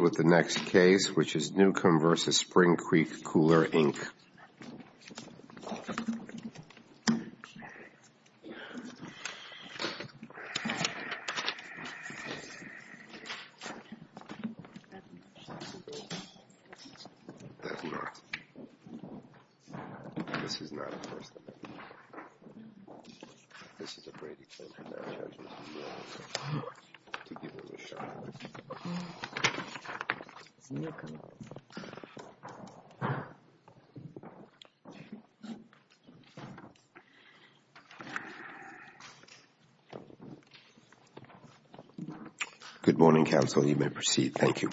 with the next case which is Newcomb v. Spring Creek Cooler Inc. Good morning, counsel. You may proceed. Thank you.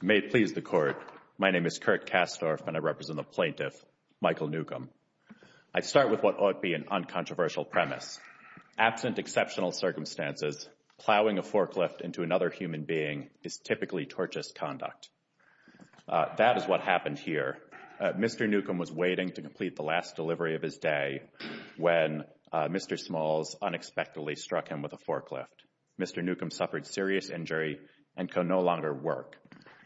May it please the Court, my name is Kirk Kastorf and I represent the plaintiff, Michael Newcomb. I start with what ought be an uncontroversial premise. Absent exceptional circumstances, plowing a forklift into another human being is typically tortious conduct. That is what happened here. Mr. Newcomb was waiting to complete the last delivery of his day when Mr. Smalls unexpectedly struck him with a forklift. Mr. Newcomb suffered serious injury and could no longer work.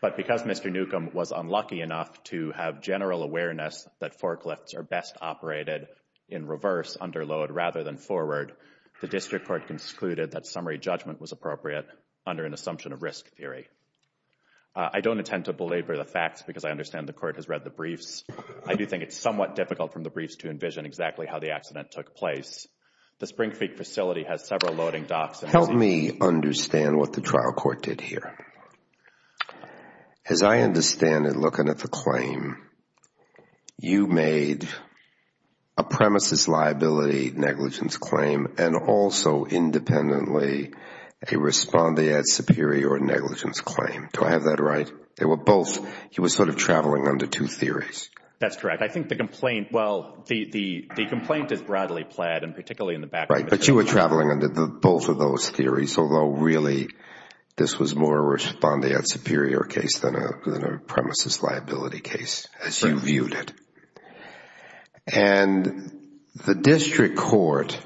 But because Mr. Newcomb was unlucky enough to have general awareness that forklifts are best operated in reverse under load rather than forward, the district court concluded that summary judgment was appropriate under an assumption of risk theory. I don't intend to belabor the facts because I understand the Court has read the briefs. I do think it's somewhat difficult from the briefs to envision exactly how the accident took place. The Spring Creek facility has several loading docks. Help me understand what the trial court did here. As I understand it, looking at the claim, you made a premises liability negligence claim and also independently a respondeat superior negligence claim. Do I have that right? They were both, he was sort of traveling under two theories. That's correct. I think the complaint, well, the complaint is broadly plaid and particularly in the background. Right, but you were traveling under both of those theories, although really this was more a respondeat superior case than a premises liability case as you viewed it. The district court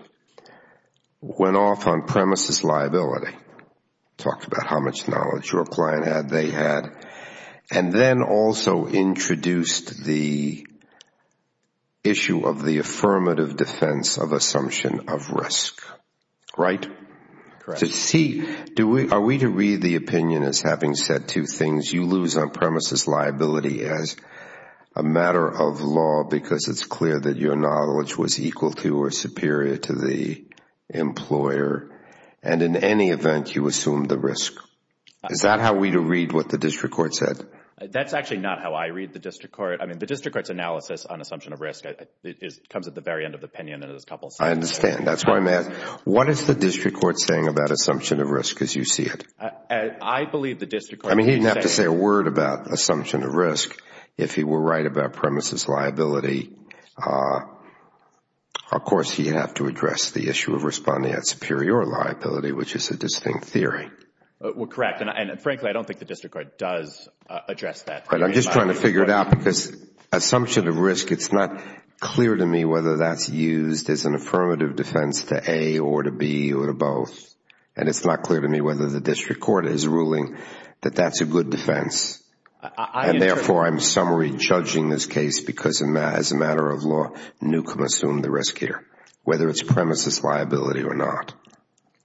went off on premises liability, talked about how much knowledge your client had, they had, and then also introduced the issue of the affirmative defense of assumption of risk. Right? Correct. To see, are we to read the opinion as having said two things, you lose on premises liability as a matter of law because it's clear that your knowledge was equal to or superior to the employer, and in any event, you assumed the risk. Is that how we read what the district court said? That's actually not how I read the district court. I mean, the district court's analysis on assumption of risk comes at the very end of the opinion in a couple of sentences. I understand. That's why I'm asking, what is the district court saying about assumption of risk as you see it? I believe the district court. I mean, he didn't have to say a word about assumption of risk. If he were right about premises liability, of course, he'd have to address the issue of respondeat superior liability, which is a distinct theory. Well, correct, and frankly, I don't think the district court does address that. I'm just trying to figure it out because assumption of risk, it's not clear to me whether that's used as an affirmative defense to A or to B or to both, and it's not clear to me whether the district court is ruling that that's a good defense, and therefore, I'm summary judging this case because as a matter of law, Newcomb assumed the risk here, whether it's premises liability or not.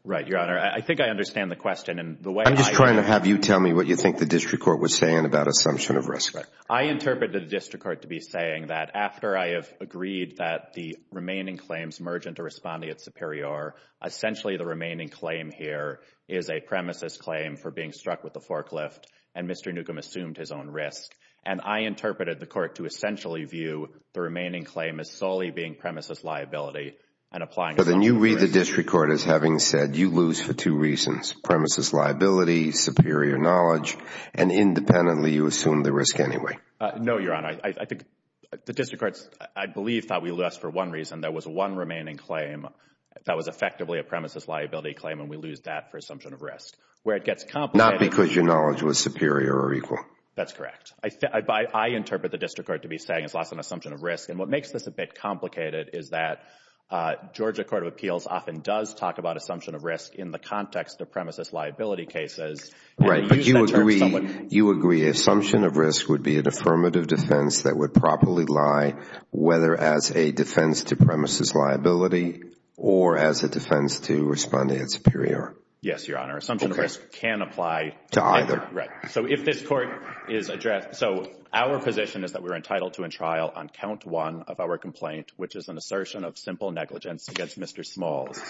Right, Your Honor. I think I understand the question and the way I... I'm just trying to have you tell me what you think the district court was saying about assumption of risk. I interpreted the district court to be saying that after I have agreed that the remaining claims merge into respondeat superior, essentially, the remaining claim here is a premises claim for being struck with a forklift, and Mr. Newcomb assumed his own risk, and I interpreted the court to essentially view the remaining claim as solely being premises liability and applying... Then you read the district court as having said you lose for two reasons, premises liability, superior knowledge, and independently, you assume the risk anyway. No, Your Honor. I think the district court, I believe, thought we lost for one reason. There was one remaining claim that was effectively a premises liability claim, and we lose that for assumption of risk. Where it gets complicated... Not because your knowledge was superior or equal. That's correct. I interpret the district court to be saying it's lost on assumption of risk, and what makes this a bit complicated is that Georgia Court of Appeals often does talk about assumption of risk in the context of premises liability cases... Right, but you agree assumption of risk would be an affirmative defense that would properly lie whether as a defense to premises liability or as a defense to respondeat superior. Yes, Your Honor. Assumption of risk can apply... To either. Right. So if this court is... So our position is that we're entitled to a trial on count one of our complaint, which is an assertion of simple negligence against Mr. Smalls.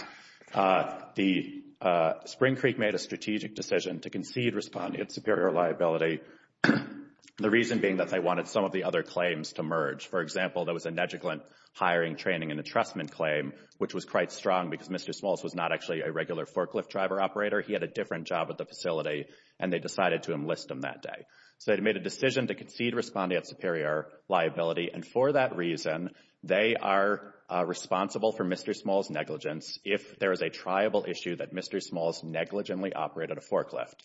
Spring Creek made a strategic decision to concede respondeat superior liability, the reason being that they wanted some of the other claims to merge. For example, there was a negligent hiring, training, and entrustment claim, which was quite strong because Mr. Smalls was not actually a regular forklift driver operator. He had a different job at the facility, and they decided to enlist him that day. So they made a decision to concede respondeat superior liability, and for that reason, they are responsible for Mr. Smalls' negligence if there is a triable issue that Mr. Smalls negligently operated a forklift,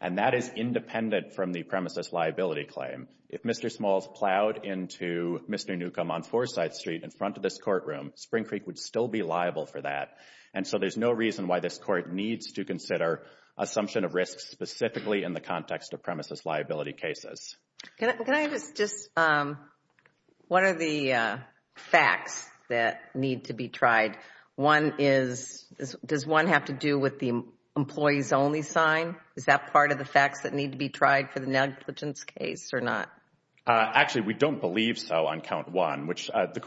and that is independent from the premises liability claim. If Mr. Smalls plowed into Mr. Newcomb on Forsyth Street in front of this courtroom, Spring Creek would still be liable for that, and so there's no reason why this court needs to consider assumption of risk specifically in the context of premises liability cases. Can I just... What are the facts that need to be tried? One is, does one have to do with the employees only sign? Is that part of the facts that need to be tried for the negligence case or not? Actually, we don't believe so on count one, which the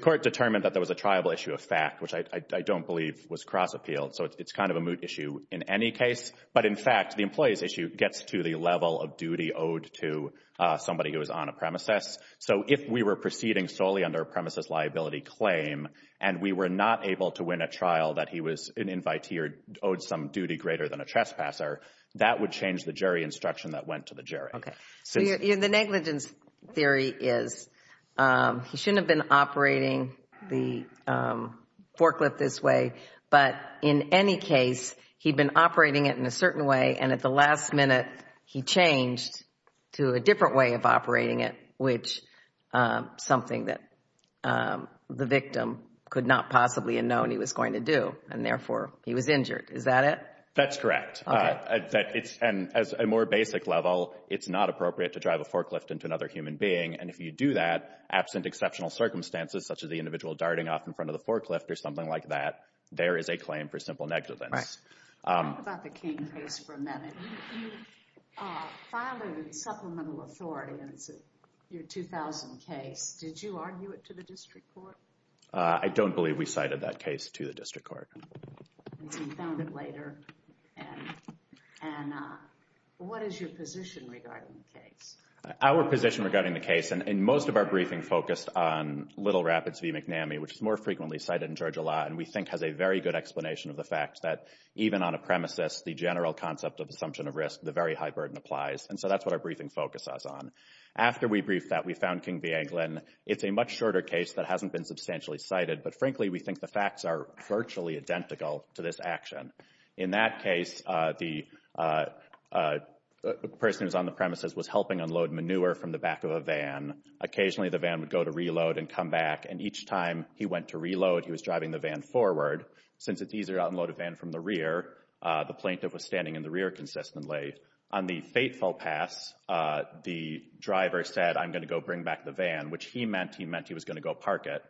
court determined that there was a triable issue of fact, which I don't believe was cross appealed. So it's kind of a moot issue in any case, but in fact, the employees issue gets to the level of duty owed to somebody who is on a premises. So if we were proceeding solely under a premises liability claim, and we were not able to win a trial that he was an invitee or owed some duty greater than a trespasser, that would change the jury instruction that went to the jury. Okay. So the negligence theory is he shouldn't have been operating the forklift this way, but in any case, he'd been operating it in a certain way, and at the last minute, he changed to a different way of operating it, which something that the victim could not possibly have known he was going to do, and therefore he was injured. Is that it? That's correct. And as a more basic level, it's not appropriate to drive a forklift into another human being. And if you do that, absent exceptional circumstances, such as the individual darting off in front of the forklift or something like that, there is a claim for simple negligence. Talk about the King case for a minute. You filed a supplemental authority, and it's your 2000 case. Did you argue it to the district court? I don't believe we cited that case to the district court. You found it later. And what is your position regarding the case? Our position regarding the case, and most of our briefing focused on Little Rapids v. McNamee, which is more frequently cited in Georgia law, and we think has a very good explanation of the even on a premises, the general concept of assumption of risk, the very high burden applies. And so that's what our briefing focuses on. After we briefed that, we found King v. Anglin. It's a much shorter case that hasn't been substantially cited, but frankly, we think the facts are virtually identical to this action. In that case, the person who's on the premises was helping unload manure from the back of a van. Occasionally, the van would go to reload and come back, and each time he went to reload, he was driving the van forward. Since it's easier to unload a van from the rear, the plaintiff was standing in the rear consistently. On the fateful pass, the driver said, I'm going to go bring back the van, which he meant he was going to go park it.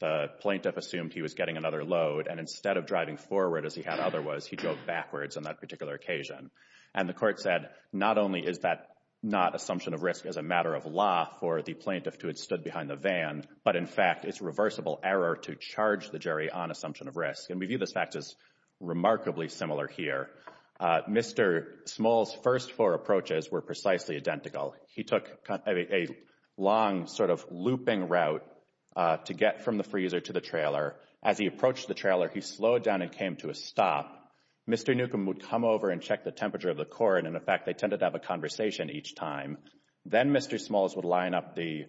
The plaintiff assumed he was getting another load, and instead of driving forward as he had otherwise, he drove backwards on that particular occasion. And the court said, not only is that not assumption of risk as a matter of law for the plaintiff to have stood behind the van, but in fact, it's reversible error to charge the jury on assumption of risk. And we view this fact as remarkably similar here. Mr. Small's first four approaches were precisely identical. He took a long sort of looping route to get from the freezer to the trailer. As he approached the trailer, he slowed down and came to a stop. Mr. Newcomb would come over and check the temperature of the court, and in fact, they tended to have a conversation each time. Then Mr. Smalls would line up the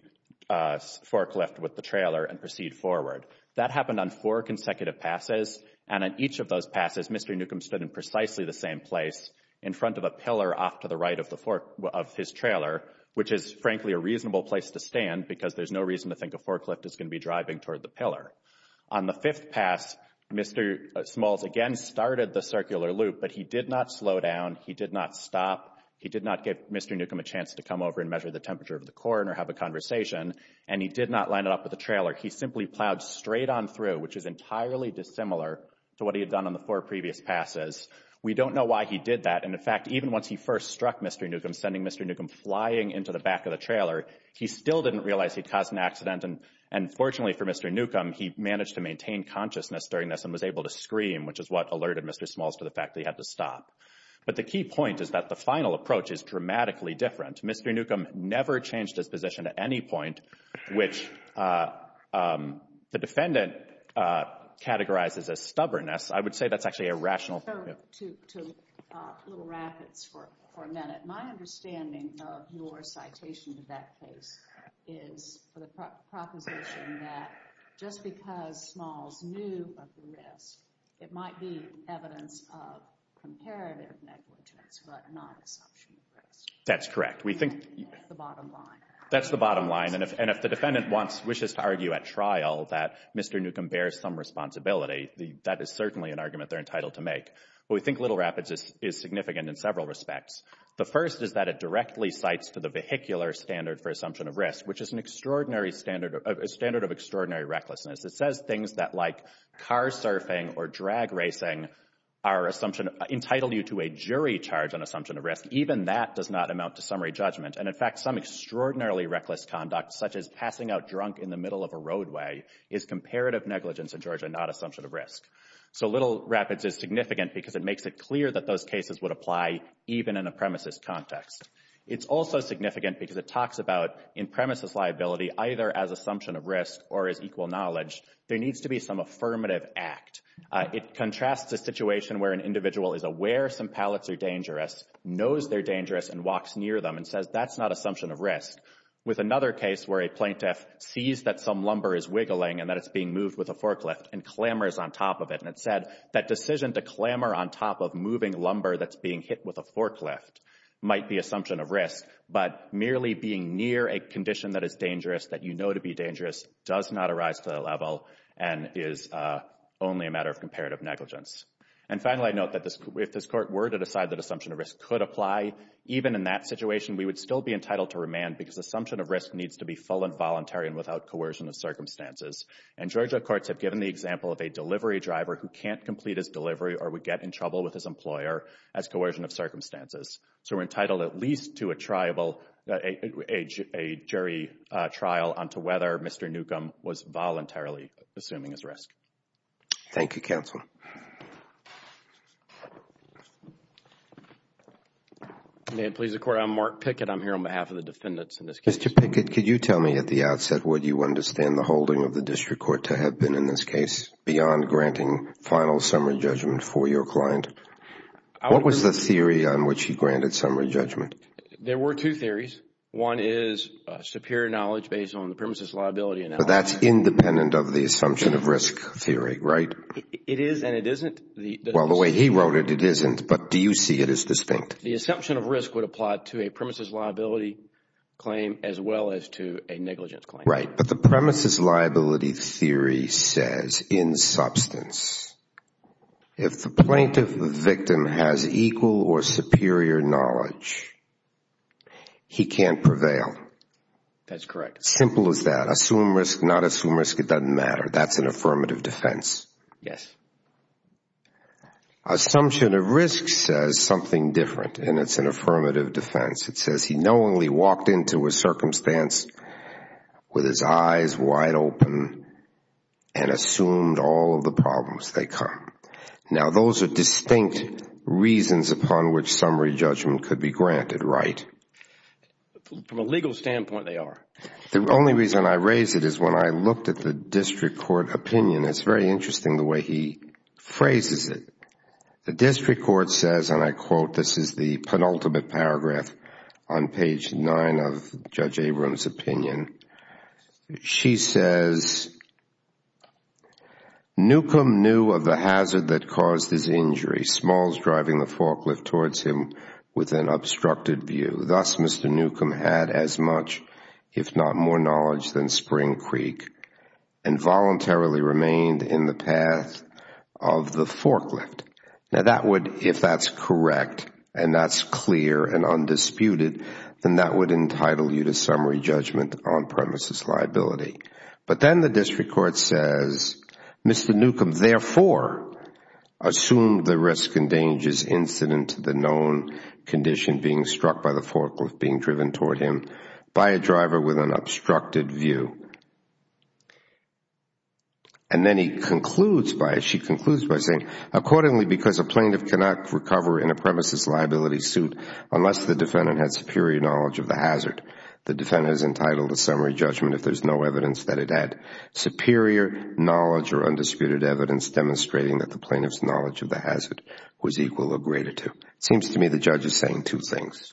forklift with the trailer and proceed forward. That happened on four consecutive passes, and in each of those passes, Mr. Newcomb stood in precisely the same place in front of a pillar off to the right of his trailer, which is frankly a reasonable place to stand because there's no reason to think a forklift is going to be driving toward the pillar. On the fifth pass, Mr. Smalls again started the circular loop, but he did not slow down, he did not stop, he did not give Mr. Newcomb a chance to come over and measure the temperature of the court or have a conversation, and he did not line it up with the trailer. He simply plowed straight on through, which is entirely dissimilar to what he had done on the four previous passes. We don't know why he did that, and in fact, even once he first struck Mr. Newcomb, sending Mr. Newcomb flying into the back of the trailer, he still didn't realize he'd caused an accident. And fortunately for Mr. Newcomb, he managed to maintain consciousness during this and was able to scream, which is what alerted Mr. Smalls to the fact that he had to stop. But the key point is that the final approach is dramatically different. Mr. Newcomb never changed his position at any point, which the defendant categorizes as stubbornness. I would say that's actually a rational— —to Little Rapids for a minute. My understanding of your citation to that case is for the imperative negligence, but not assumption of risk. That's correct. We think— —the bottom line. That's the bottom line, and if the defendant wants—wishes to argue at trial that Mr. Newcomb bears some responsibility, that is certainly an argument they're entitled to make. But we think Little Rapids is significant in several respects. The first is that it directly cites to the vehicular standard for assumption of risk, which is an extraordinary standard—a standard of extraordinary recklessness. It says things that, like car surfing or drag racing, entitle you to a jury charge on assumption of risk. Even that does not amount to summary judgment. And in fact, some extraordinarily reckless conduct, such as passing out drunk in the middle of a roadway, is comparative negligence in Georgia, not assumption of risk. So Little Rapids is significant because it makes it clear that those cases would apply even in a premises context. It's also significant because it talks about, in premises liability, either as assumption of risk or as equal knowledge, there needs to be some affirmative act. It contrasts a situation where an individual is aware some pallets are dangerous, knows they're dangerous, and walks near them and says that's not assumption of risk with another case where a plaintiff sees that some lumber is wiggling and that it's being moved with a forklift and clamors on top of it. And it said that decision to clamor on top of moving lumber that's being hit with a forklift might be assumption of risk, but merely being near a condition that is dangerous, that you know to be dangerous, does not arise to that level. And is only a matter of comparative negligence. And finally, I note that if this court were to decide that assumption of risk could apply, even in that situation, we would still be entitled to remand because assumption of risk needs to be full and voluntary and without coercion of circumstances. And Georgia courts have given the example of a delivery driver who can't complete his delivery or would get in trouble with his employer as coercion of circumstances. So we're entitled at least to a tribal, a jury trial on to whether Mr. Newcomb was voluntarily assuming his risk. Thank you, counsel. May it please the court. I'm Mark Pickett. I'm here on behalf of the defendants in this case. Mr. Pickett, could you tell me at the outset would you understand the holding of the district court to have been in this case beyond granting final summary judgment for your client? What was the theory on which he granted summary judgment? There were two theories. One is superior knowledge based on the premises liability. But that's independent of the assumption of risk theory, right? It is and it isn't. Well, the way he wrote it, it isn't. But do you see it as distinct? The assumption of risk would apply to a premises liability claim as well as to a negligence claim. Right. But the premises liability theory says in substance, if the plaintiff, the victim has equal or superior knowledge, he can't prevail. That's correct. Simple as that. Assume risk, not assume risk. It doesn't matter. That's an affirmative defense. Yes. Assumption of risk says something different and it's an affirmative defense. It says he walked into a circumstance with his eyes wide open and assumed all of the problems they come. Now, those are distinct reasons upon which summary judgment could be granted, right? From a legal standpoint, they are. The only reason I raise it is when I looked at the district court opinion, it's very interesting the way he phrases it. The district court says, and I quote, this is the penultimate paragraph on page nine of Judge Abrams' opinion. She says, Newcomb knew of the hazard that caused his injury, Smalls driving the forklift towards him with an obstructed view. Thus, Mr. Newcomb had as much, if not more knowledge than Spring Creek and voluntarily remained in the path of the forklift. Now, that would, if that's correct and that's clear and undisputed, then that would entitle you to summary judgment on premises liability. But then the district court says, Mr. Newcomb therefore assumed the risk and dangers incident to the known condition being struck by the forklift being driven toward him by a driver with an obstructed view. And then he concludes by, she concludes by saying, accordingly, because a plaintiff cannot recover in a premises liability suit unless the defendant has superior knowledge of the hazard, the defendant is entitled to summary judgment if there's no evidence that it had superior knowledge or undisputed evidence demonstrating that the plaintiff's knowledge of the hazard was equal or greater to. It seems to me the judge is saying two things.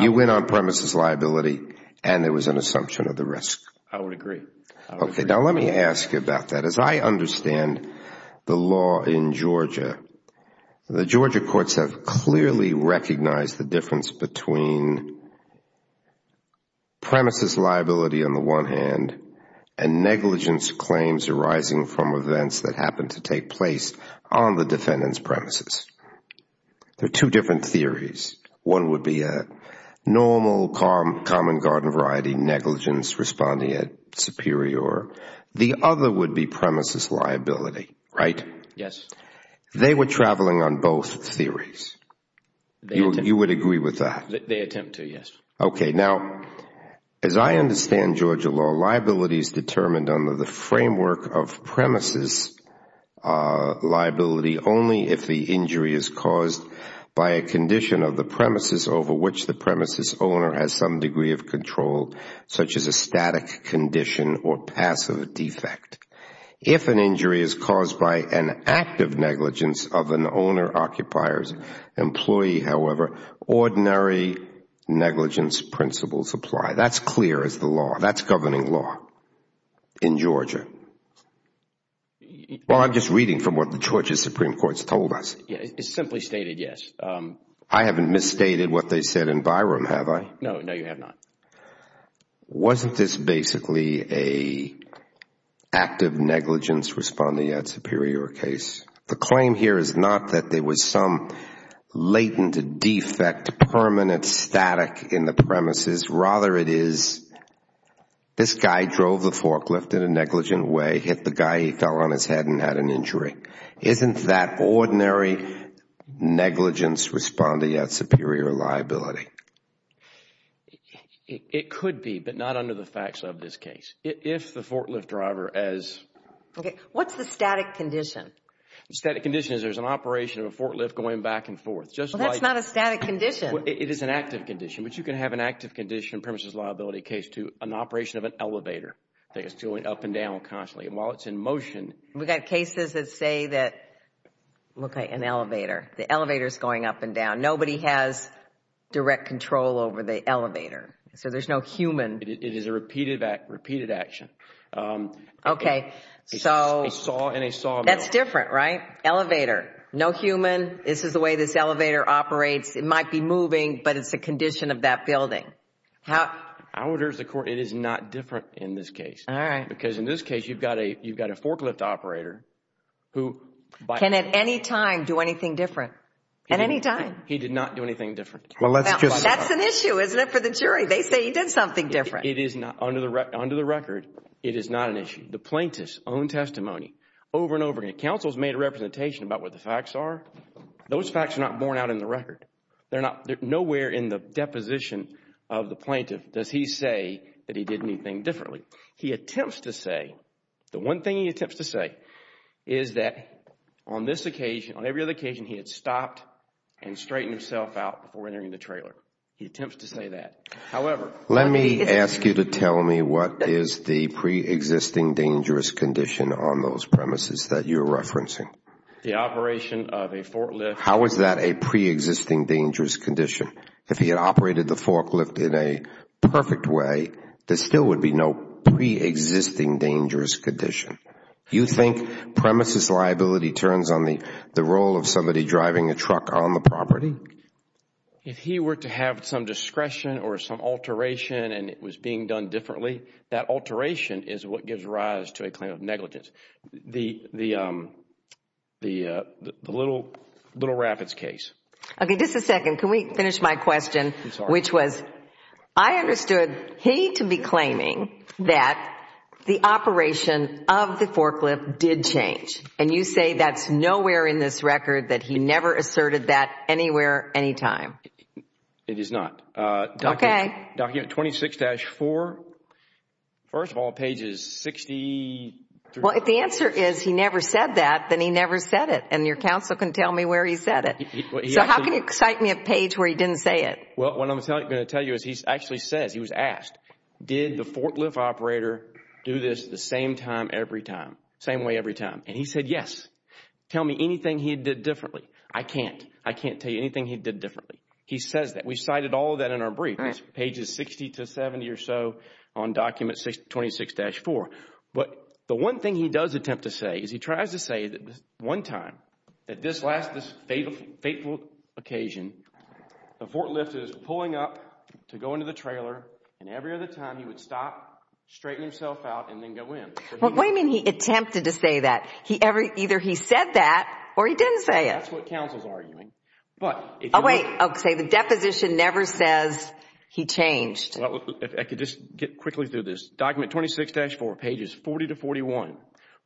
You went on premises liability and there was an assumption of the risk. I would agree. Okay. Now, let me ask you about that. As I understand the law in Georgia, the Georgia courts have clearly recognized the difference between premises liability on the one hand and negligence claims arising from events that happen to take on the defendant's premises. There are two different theories. One would be a normal common garden variety negligence responding at superior. The other would be premises liability, right? Yes. They were traveling on both theories. You would agree with that? They attempt to, yes. Okay. Now, as I understand Georgia law, liabilities determined under the framework of premises liability only if the injury is caused by a condition of the premises over which the premises owner has some degree of control such as a static condition or passive defect. If an injury is caused by an act of negligence of an owner, occupier, employee, however, ordinary negligence principles apply. That's clear as the law. That's governing law in Georgia. Well, I'm just reading from what the Georgia Supreme Court has told us. Yeah. It's simply stated yes. I haven't misstated what they said in Byram, have I? No. No, you have not. Wasn't this basically a active negligence responding at superior case? The claim here is not that there was some latent defect permanent static in the premises. Rather, it is this guy drove the forklift in a negligent way, hit the guy, he fell on his head and had an injury. Isn't that ordinary negligence responding at superior liability? It could be, but not under the facts of this case. If the forklift driver as... Okay. What's the static condition? Static condition is there's an operation of a forklift going back and forth. Well, that's not a static condition. It is an active condition, but you can have an active condition premises liability case to an operation of an elevator that is going up and down constantly. And while it's in motion... We've got cases that say that, look, an elevator, the elevator is going up and down. Nobody has direct control over the elevator. So there's no human. It is a repeated action. Okay. That's different, right? Elevator, no human. This is the way this elevator operates. It might be moving, but it's a condition of that building. I would urge the court, it is not different in this case. All right. Because in this case, you've got a forklift operator who... Can at any time do anything different? At any time. He did not do anything different. Well, let's just... That's an issue, isn't it, for the jury? They say he did something different. It is not. Under the record, it is not an issue. The plaintiff's own testimony over and over again. Counsel's made a representation about what the facts are. Those facts are not borne out in the record. They're not... Nowhere in the deposition of the plaintiff does he say that he did anything differently. He attempts to say... The one thing he attempts to say is that on this occasion, on every other occasion, he had stopped and straightened himself out before entering the trailer. He attempts to say that. However... Let me ask you to tell me what is the pre-existing dangerous condition on those premises that you're referencing? The operation of a forklift... How is that a pre-existing dangerous condition? If he had operated the forklift in a perfect way, there still would be no pre-existing dangerous condition. You think premises liability turns on the role of somebody driving a truck on the property? If he were to have some discretion or some alteration and it was being done differently, that alteration is what gives rise to a claim of negligence. The Little Rapids case. Okay, just a second. Can we finish my question? I'm sorry. Which was, I understood he to be claiming that the operation of the forklift did change. And you say that's nowhere in this record that he never asserted that anywhere, anytime. It is not. Okay. Document 26-4. First of all, pages 60... Well, if the answer is he never said that, then he never said it. And your counsel can tell me where he said it. So how can you cite me a page where he didn't say it? Well, what I'm going to tell you is he actually says, he was asked, did the forklift operator do this the same time every time, same way every time? And he said, yes. Tell me anything he did differently. I can't. I can't tell you anything he did differently. He says that. We cited all of that in our brief, pages 60 to 70 or so on document 26-4. But the one thing he does attempt to say is he tries to say that this one time, at this last, this fateful occasion, the forklift is pulling up to go into the trailer. And every other time he would stop, straighten himself out and then go in. But what do you mean he attempted to say that? Either he said that or he didn't say it. That's what counsel's arguing. But... Oh, wait. Okay. The deposition never says he changed. If I could just get quickly through this. Document 26-4, pages 40 to 41.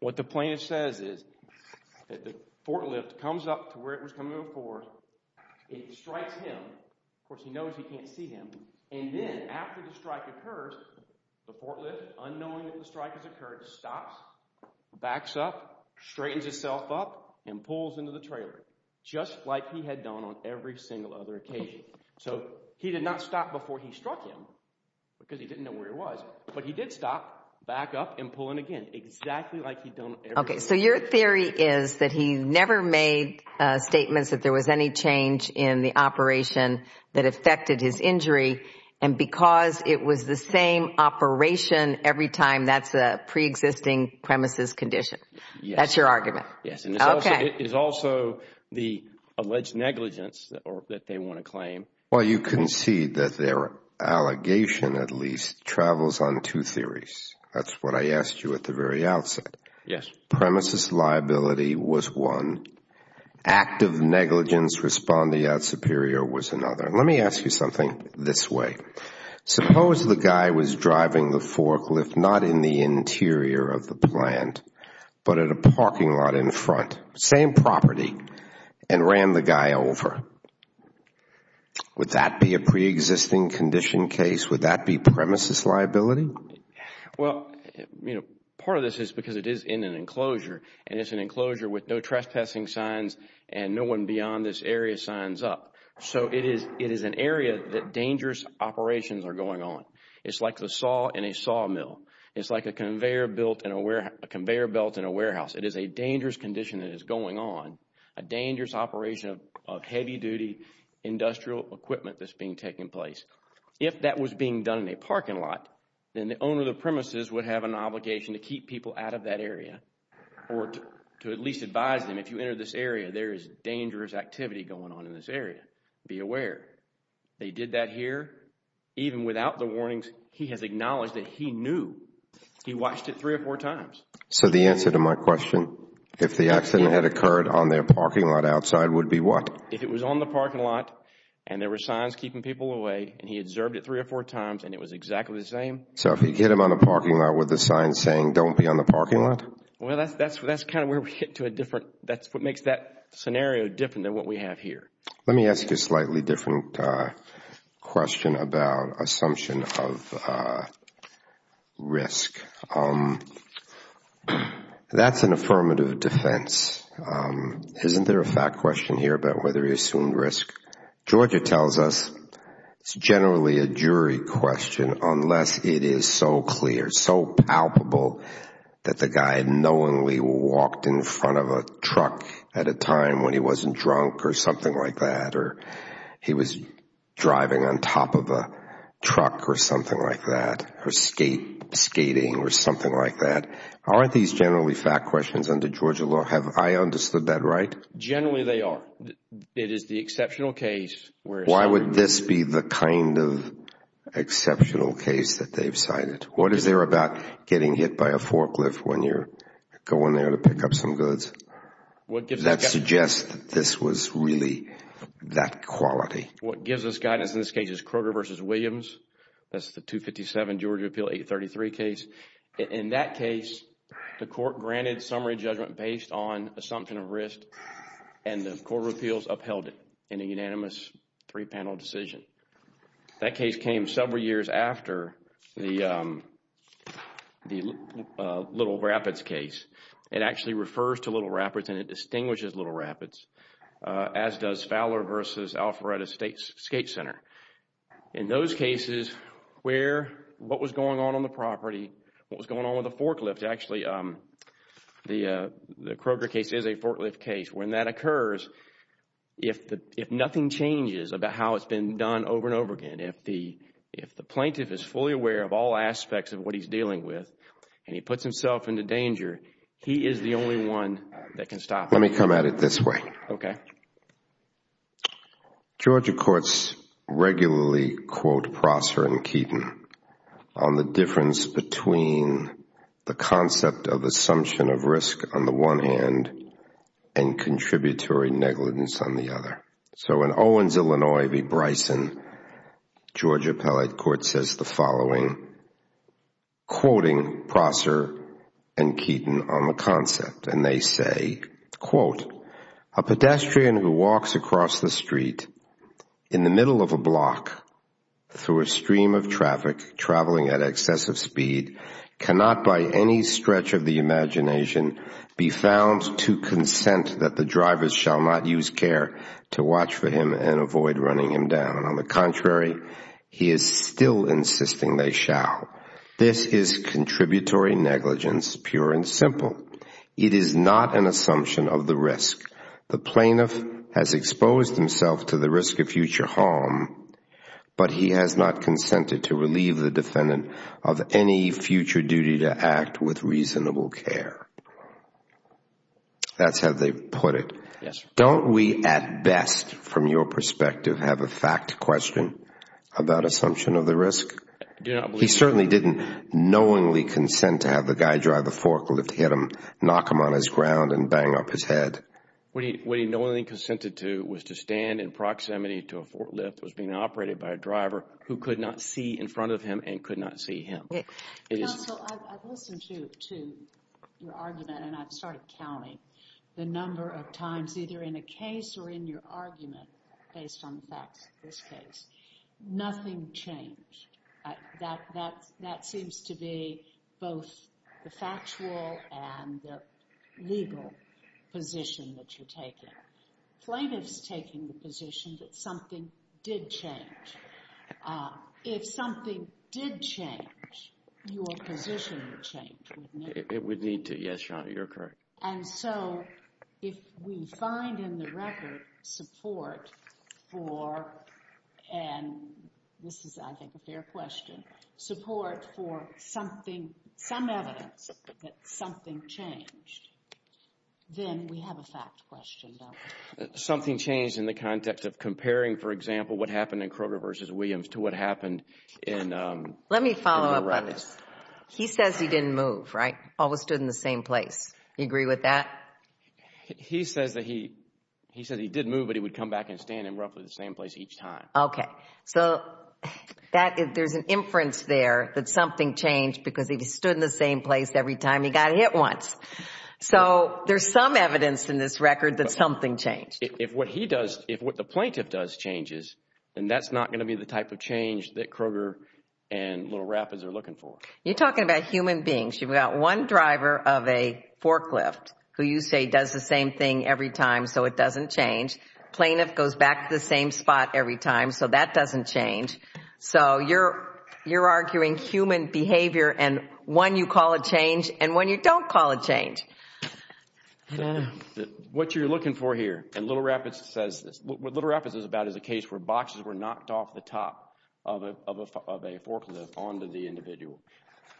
What the plaintiff says is that the forklift comes up to where it was coming before. It strikes him. Of course, he knows he can't see him. And then after the strike occurs, the forklift, unknowing that the strike has occurred, stops, backs up, straightens itself up and pulls into the trailer, just like he had done on every single other occasion. So he did not stop before he struck him because he didn't know where he was. But he did stop, back up, and pull in again. Exactly like you don't... Okay. So your theory is that he never made statements that there was any change in the operation that affected his injury. And because it was the same operation every time, that's a pre-existing premises condition. That's your argument. And it's also the alleged negligence that they want to claim. Well, you can see that their allegation, at least, travels on two theories. That's what I asked you at the very outset. Yes. Premises liability was one. Act of negligence responding out superior was another. Let me ask you something this way. Suppose the guy was driving the forklift, not in the interior of the plant, but at a parking lot in front, same property, and ran the guy over. Would that be a pre-existing condition case? Would that be premises liability? Well, part of this is because it is in an enclosure. And it's an enclosure with no trespassing signs and no one beyond this area signs up. So it is an area that dangerous operations are going on. It's like the saw in a sawmill. It's like a conveyor belt in a warehouse. It is a dangerous condition that is going on. A dangerous operation of heavy-duty industrial equipment that's being taken place. If that was being done in a parking lot, then the owner of the premises would have an obligation to keep people out of that area or to at least advise them if you enter this area, there is dangerous activity going on in this area. Be aware. They did that here. Even without the warnings, he has acknowledged that he knew. He watched it three or four times. So the answer to my question, if the accident had occurred on their parking lot outside, would be what? If it was on the parking lot and there were signs keeping people away and he observed it three or four times and it was exactly the same. So if you hit him on the parking lot with the sign saying don't be on the parking lot? Well, that's kind of where we hit to a different, that's what makes that scenario different than what we have here. Let me ask you a slightly different question about assumption of risk. That's an affirmative defense. Isn't there a fact question here about whether he assumed risk? Georgia tells us it's generally a jury question unless it is so clear, so palpable that the guy knowingly walked in front of a truck at a time when he wasn't drunk or something like that or he was driving on top of a truck or something like that or skating or something like that. Aren't these generally fact questions under Georgia law? Have I understood that right? Generally, they are. It is the exceptional case. Why would this be the kind of exceptional case that they've cited? What is there about getting hit by a forklift when you're going there to pick up some goods that suggests that this was really that quality? What gives us guidance in this case is Kroger v. Williams. That's the 257 Georgia Appeal 833 case. In that case, the court granted summary judgment based on assumption of risk and the court of appeals upheld it in a unanimous three-panel decision. That case came several years after the Little Rapids case. It actually refers to Little Rapids and it distinguishes Little Rapids as does Fowler v. Alpharetta State Skate Center. In those cases, what was going on on the property, what was going on with the forklift, actually, the Kroger case is a forklift case. When that occurs, if nothing changes about how it's been done over and over again, if the plaintiff is fully aware of all aspects of what he's dealing with and he puts himself into danger, he is the only one that can stop him. Let me come at it this way. Okay. Georgia courts regularly quote Prosser and Keaton on the difference between the concept of assumption of risk on the one hand and contributory negligence on the other. So in Owens, Illinois v. Bryson, Georgia Appellate Court says the following, quoting Prosser and Keaton on the concept. And they say, quote, A pedestrian who walks across the street in the middle of a block through a stream of traffic traveling at excessive speed cannot by any stretch of the imagination be found to consent that the drivers shall not use care to watch for him and avoid running him down. And on the contrary, he is still insisting they shall. This is contributory negligence, pure and simple. It is not an assumption of the risk. The plaintiff has exposed himself to the risk of future harm, but he has not consented to relieve the defendant of any future duty to act with reasonable care. That's how they put it. Don't we at best, from your perspective, have a fact question about assumption of the risk? He certainly didn't knowingly consent to have the guy drive the forklift, hit him, knock him on his ground and bang up his head. What he knowingly consented to was to stand in proximity to a forklift that was being operated by a driver who could not see in front of him and could not see him. Counsel, I've listened to your argument and I've started counting the number of times either in a case or in your argument based on the facts of this case. Nothing changed. That seems to be both the factual and the legal position that you're taking. Plaintiff's taking the position that something did change. If something did change, your position would change, wouldn't it? It would need to, yes, Your Honor. You're correct. And so if we find in the record support for, and this is, I think, a fair question, support for something, some evidence that something changed, then we have a fact question. Something changed in the context of comparing, for example, what happened in Kroger v. Williams to what happened in the records. Let me follow up on this. He says he didn't move, right? Always stood in the same place. You agree with that? He says that he did move, but he would come back and stand in roughly the same place each time. Okay. So there's an inference there that something changed because he stood in the same place every time he got hit once. So there's some evidence in this record that something changed. If what he does, if what the plaintiff does changes, then that's not going to be the type of change that Kroger and Little Rapids are looking for. You're talking about human beings. You've got one driver of a forklift who you say does the same thing every time, so it doesn't change. Plaintiff goes back to the same spot every time, so that doesn't change. So you're arguing human behavior and when you call a change and when you don't call a change. What you're looking for here, and Little Rapids says this, what Little Rapids is about is a case where boxes were knocked off the top of a forklift onto the individual.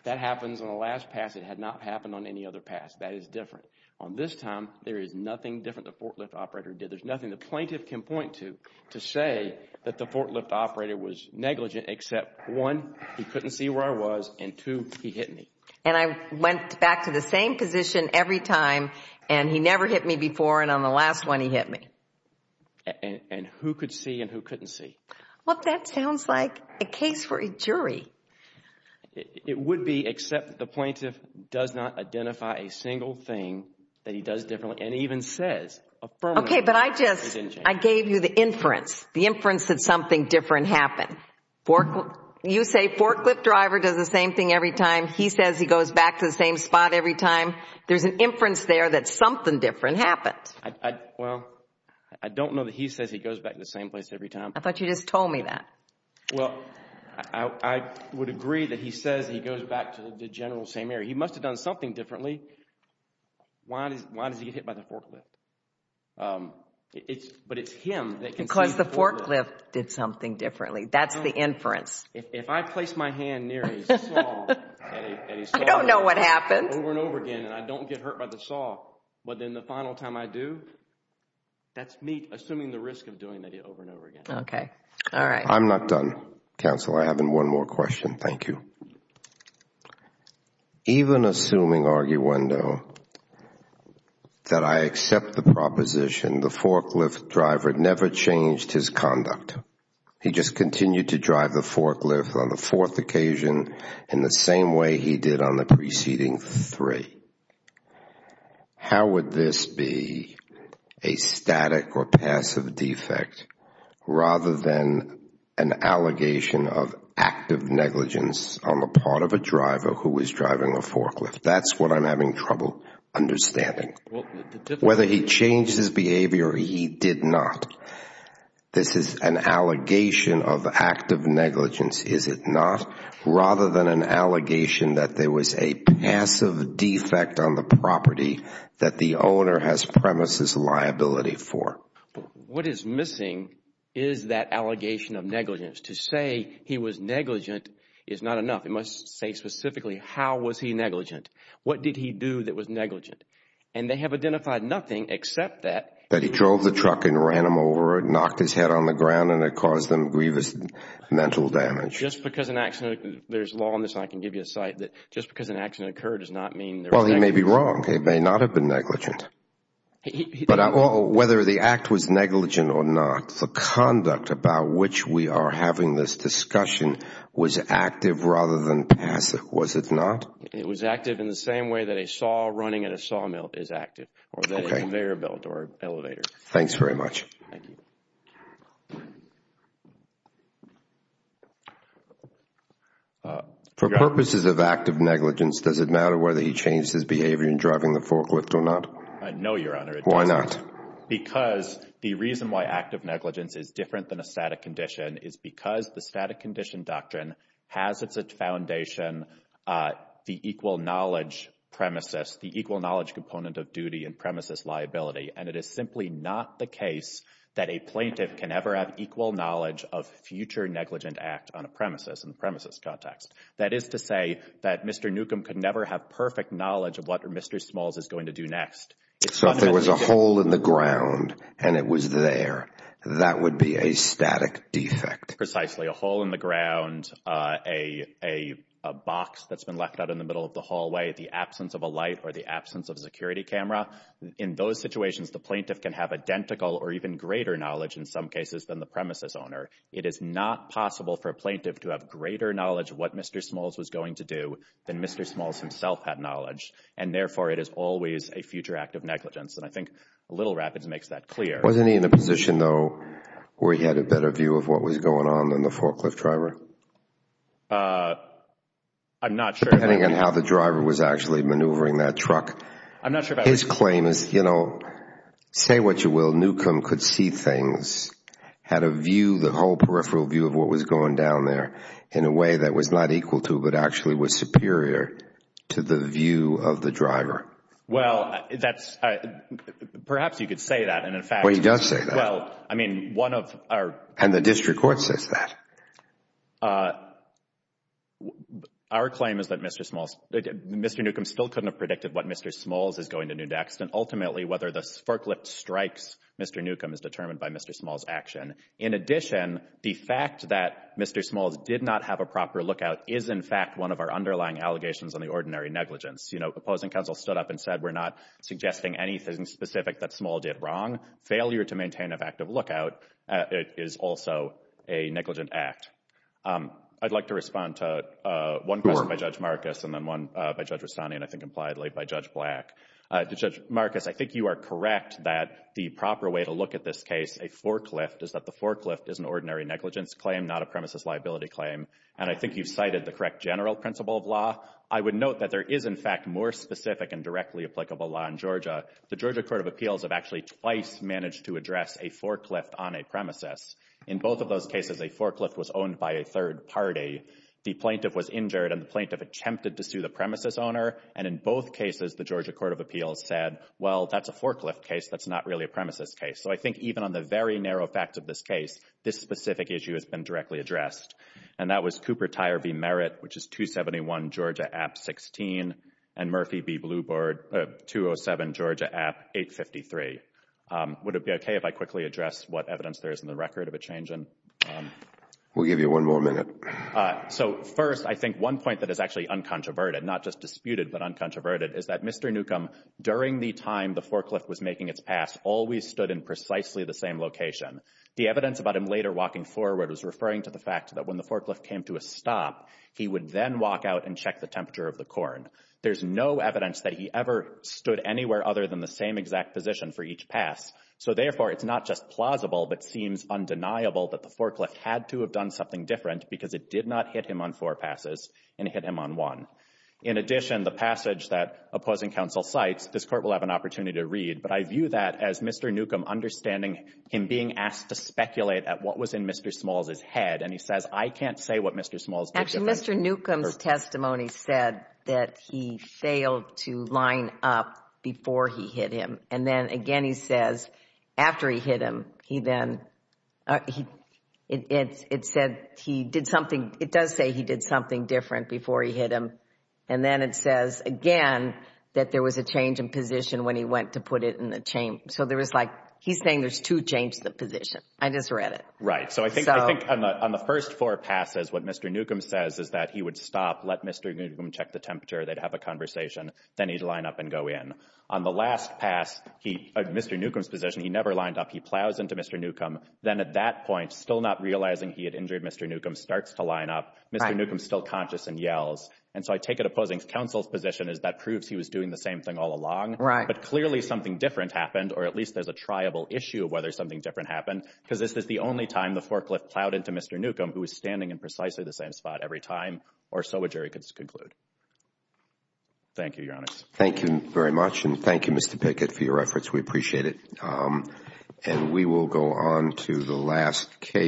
That happens on the last pass. It had not happened on any other pass. That is different. On this time, there is nothing different the forklift operator did. There's nothing the plaintiff can point to to say that the forklift operator was negligent, except one, he couldn't see where I was and two, he hit me. And I went back to the same position every time and he never hit me before and on the last one he hit me. And who could see and who couldn't see. Well, that sounds like a case for a jury. It would be, except the plaintiff does not identify a single thing that he does differently and even says affirmatively. Okay, but I just, I gave you the inference. The inference that something different happened. You say forklift driver does the same thing every time. He says he goes back to the same spot every time. There's an inference there that something different happened. Well, I don't know that he says he goes back to the same place every time. I thought you just told me that. Well, I would agree that he says he goes back to the general same area. He must have done something differently. Why does he get hit by the forklift? But it's him that can see. Because the forklift did something differently. That's the inference. If I place my hand near his saw and he saw over and over again and I don't get hurt by the saw, but then the final time I do, that's me assuming the risk of doing that over and over again. Okay, all right. I'm not done, counsel. I have one more question. Thank you. Even assuming, arguendo, that I accept the proposition the forklift driver never changed his conduct. He just continued to drive the forklift on the fourth occasion in the same way he did on the preceding three. How would this be a static or passive defect rather than an allegation of active negligence on the part of a driver who was driving a forklift? That's what I'm having trouble understanding. Whether he changed his behavior or he did not, this is an allegation of active negligence, is it not, rather than an allegation that there was a passive defect on the property that the owner has premises liability for. What is missing is that allegation of negligence. To say he was negligent is not enough. It must say specifically how was he negligent. What did he do that was negligent? And they have identified nothing except that. That he drove the truck and ran him over, knocked his head on the ground, and it caused him grievous mental damage. Just because an accident, there's law on this and I can give you a site, that just because an accident occurred does not mean there was negligence. Well, he may be wrong. He may not have been negligent. But whether the act was negligent or not, the conduct about which we are having this discussion was active rather than passive, was it not? It was active in the same way that a saw running at a sawmill is active or an elevator. Thanks very much. For purposes of active negligence, does it matter whether he changed his behavior in driving the forklift or not? I know, Your Honor, it doesn't. Why not? Because the reason why active negligence is different than a static condition is because the static condition doctrine has as its foundation the equal knowledge premises, the equal knowledge component of duty and premises liability. And it is simply not the case that a plaintiff can ever have equal knowledge of future negligent act on a premises in the premises context. That is to say that Mr. Newcomb could never have perfect knowledge of what Mr. Smalls is going to do next. So if there was a hole in the ground and it was there, that would be a static defect? Precisely. A hole in the ground, a box that's been left out in the middle of the hallway, the absence of a light or the absence of a security camera. In those situations, the plaintiff can have identical or even greater knowledge in some cases than the premises owner. It is not possible for a plaintiff to have greater knowledge of what Mr. Smalls was going to do than Mr. Smalls himself had knowledge. And therefore, it is always a future act of negligence. And I think Little Rapids makes that clear. Wasn't he in a position, though, where he had a better view of what was going on than the forklift driver? I'm not sure. Depending on how the driver was actually maneuvering that truck. His claim is, you know, say what you will, Newcomb could see things, had a view, the whole peripheral view of what was going down there in a way that was not equal to but actually was superior to the view of the driver. Well, that's perhaps you could say that. And in fact, he does say that. Well, I mean, one of our. And the district court says that. Our claim is that Mr. Smalls, Mr. Newcomb still couldn't have Mr. Smalls is going to New Decks and ultimately whether the forklift strikes Mr. Newcomb is determined by Mr. Smalls action. In addition, the fact that Mr. Smalls did not have a proper lookout is, in fact, one of our underlying allegations on the ordinary negligence. You know, opposing counsel stood up and said, we're not suggesting anything specific that Small did wrong. Failure to maintain an active lookout is also a negligent act. I'd like to respond to one question by Judge Marcus and then one by Judge Rastani. I think impliedly by Judge Black to Judge Marcus. I think you are correct that the proper way to look at this case, a forklift is that the forklift is an ordinary negligence claim, not a premises liability claim. And I think you've cited the correct general principle of law. I would note that there is, in fact, more specific and directly applicable law in Georgia. The Georgia Court of Appeals have actually twice managed to address a forklift on a premises. In both of those cases, a forklift was owned by a third party. The plaintiff was injured and the plaintiff attempted to sue the premises owner. And in both cases, the Georgia Court of Appeals said, well, that's a forklift case. That's not really a premises case. So I think even on the very narrow fact of this case, this specific issue has been directly addressed. And that was Cooper Tire v. Merritt, which is 271 Georgia App 16 and Murphy v. Blue Board, 207 Georgia App 853. Would it be OK if I quickly address what evidence there is in the record of a change in? We'll give you one more minute. So first, I think one point that is actually uncontroverted, not just disputed, but uncontroverted, is that Mr. Newcomb, during the time the forklift was making its pass, always stood in precisely the same location. The evidence about him later walking forward was referring to the fact that when the forklift came to a stop, he would then walk out and check the temperature of the corn. There's no evidence that he ever stood anywhere other than the same exact position for each pass. So therefore, it's not just plausible, but seems undeniable that the forklift had to have done something different because it did not hit him on four passes and hit him on one. In addition, the passage that opposing counsel cites, this court will have an opportunity to read, but I view that as Mr. Newcomb understanding him being asked to speculate at what was in Mr. Smalls' head, and he says, I can't say what Mr. Smalls did. Actually, Mr. Newcomb's testimony said that he failed to line up before he hit him. And then again, he says, after he hit him, he then, it said he did something, it does say he did something different before he hit him. And then it says, again, that there was a change in position when he went to put it in the chain. So there was like, he's saying there's two chains to the position. I just read it. Right. So I think on the first four passes, what Mr. Newcomb says is that he would stop, let Mr. Newcomb check the temperature, they'd have a conversation, then he'd line up and go in. On the last pass, Mr. Newcomb's position, he never lined up. He plows into Mr. Newcomb, then at that point, still not realizing he had injured Mr. Newcomb, starts to line up, Mr. Newcomb's still conscious and yells. And so I take it opposing counsel's position is that proves he was doing the same thing all along. Right. But clearly something different happened, or at least there's a triable issue of whether something different happened, because this is the only time the forklift plowed into Mr. Newcomb, who was standing in precisely the same spot every time, or so a jury could conclude. Thank you, Your Honors. Thank you very much. And thank you, Mr. Pickett, for your reference. We appreciate it. And we will go on to the last case.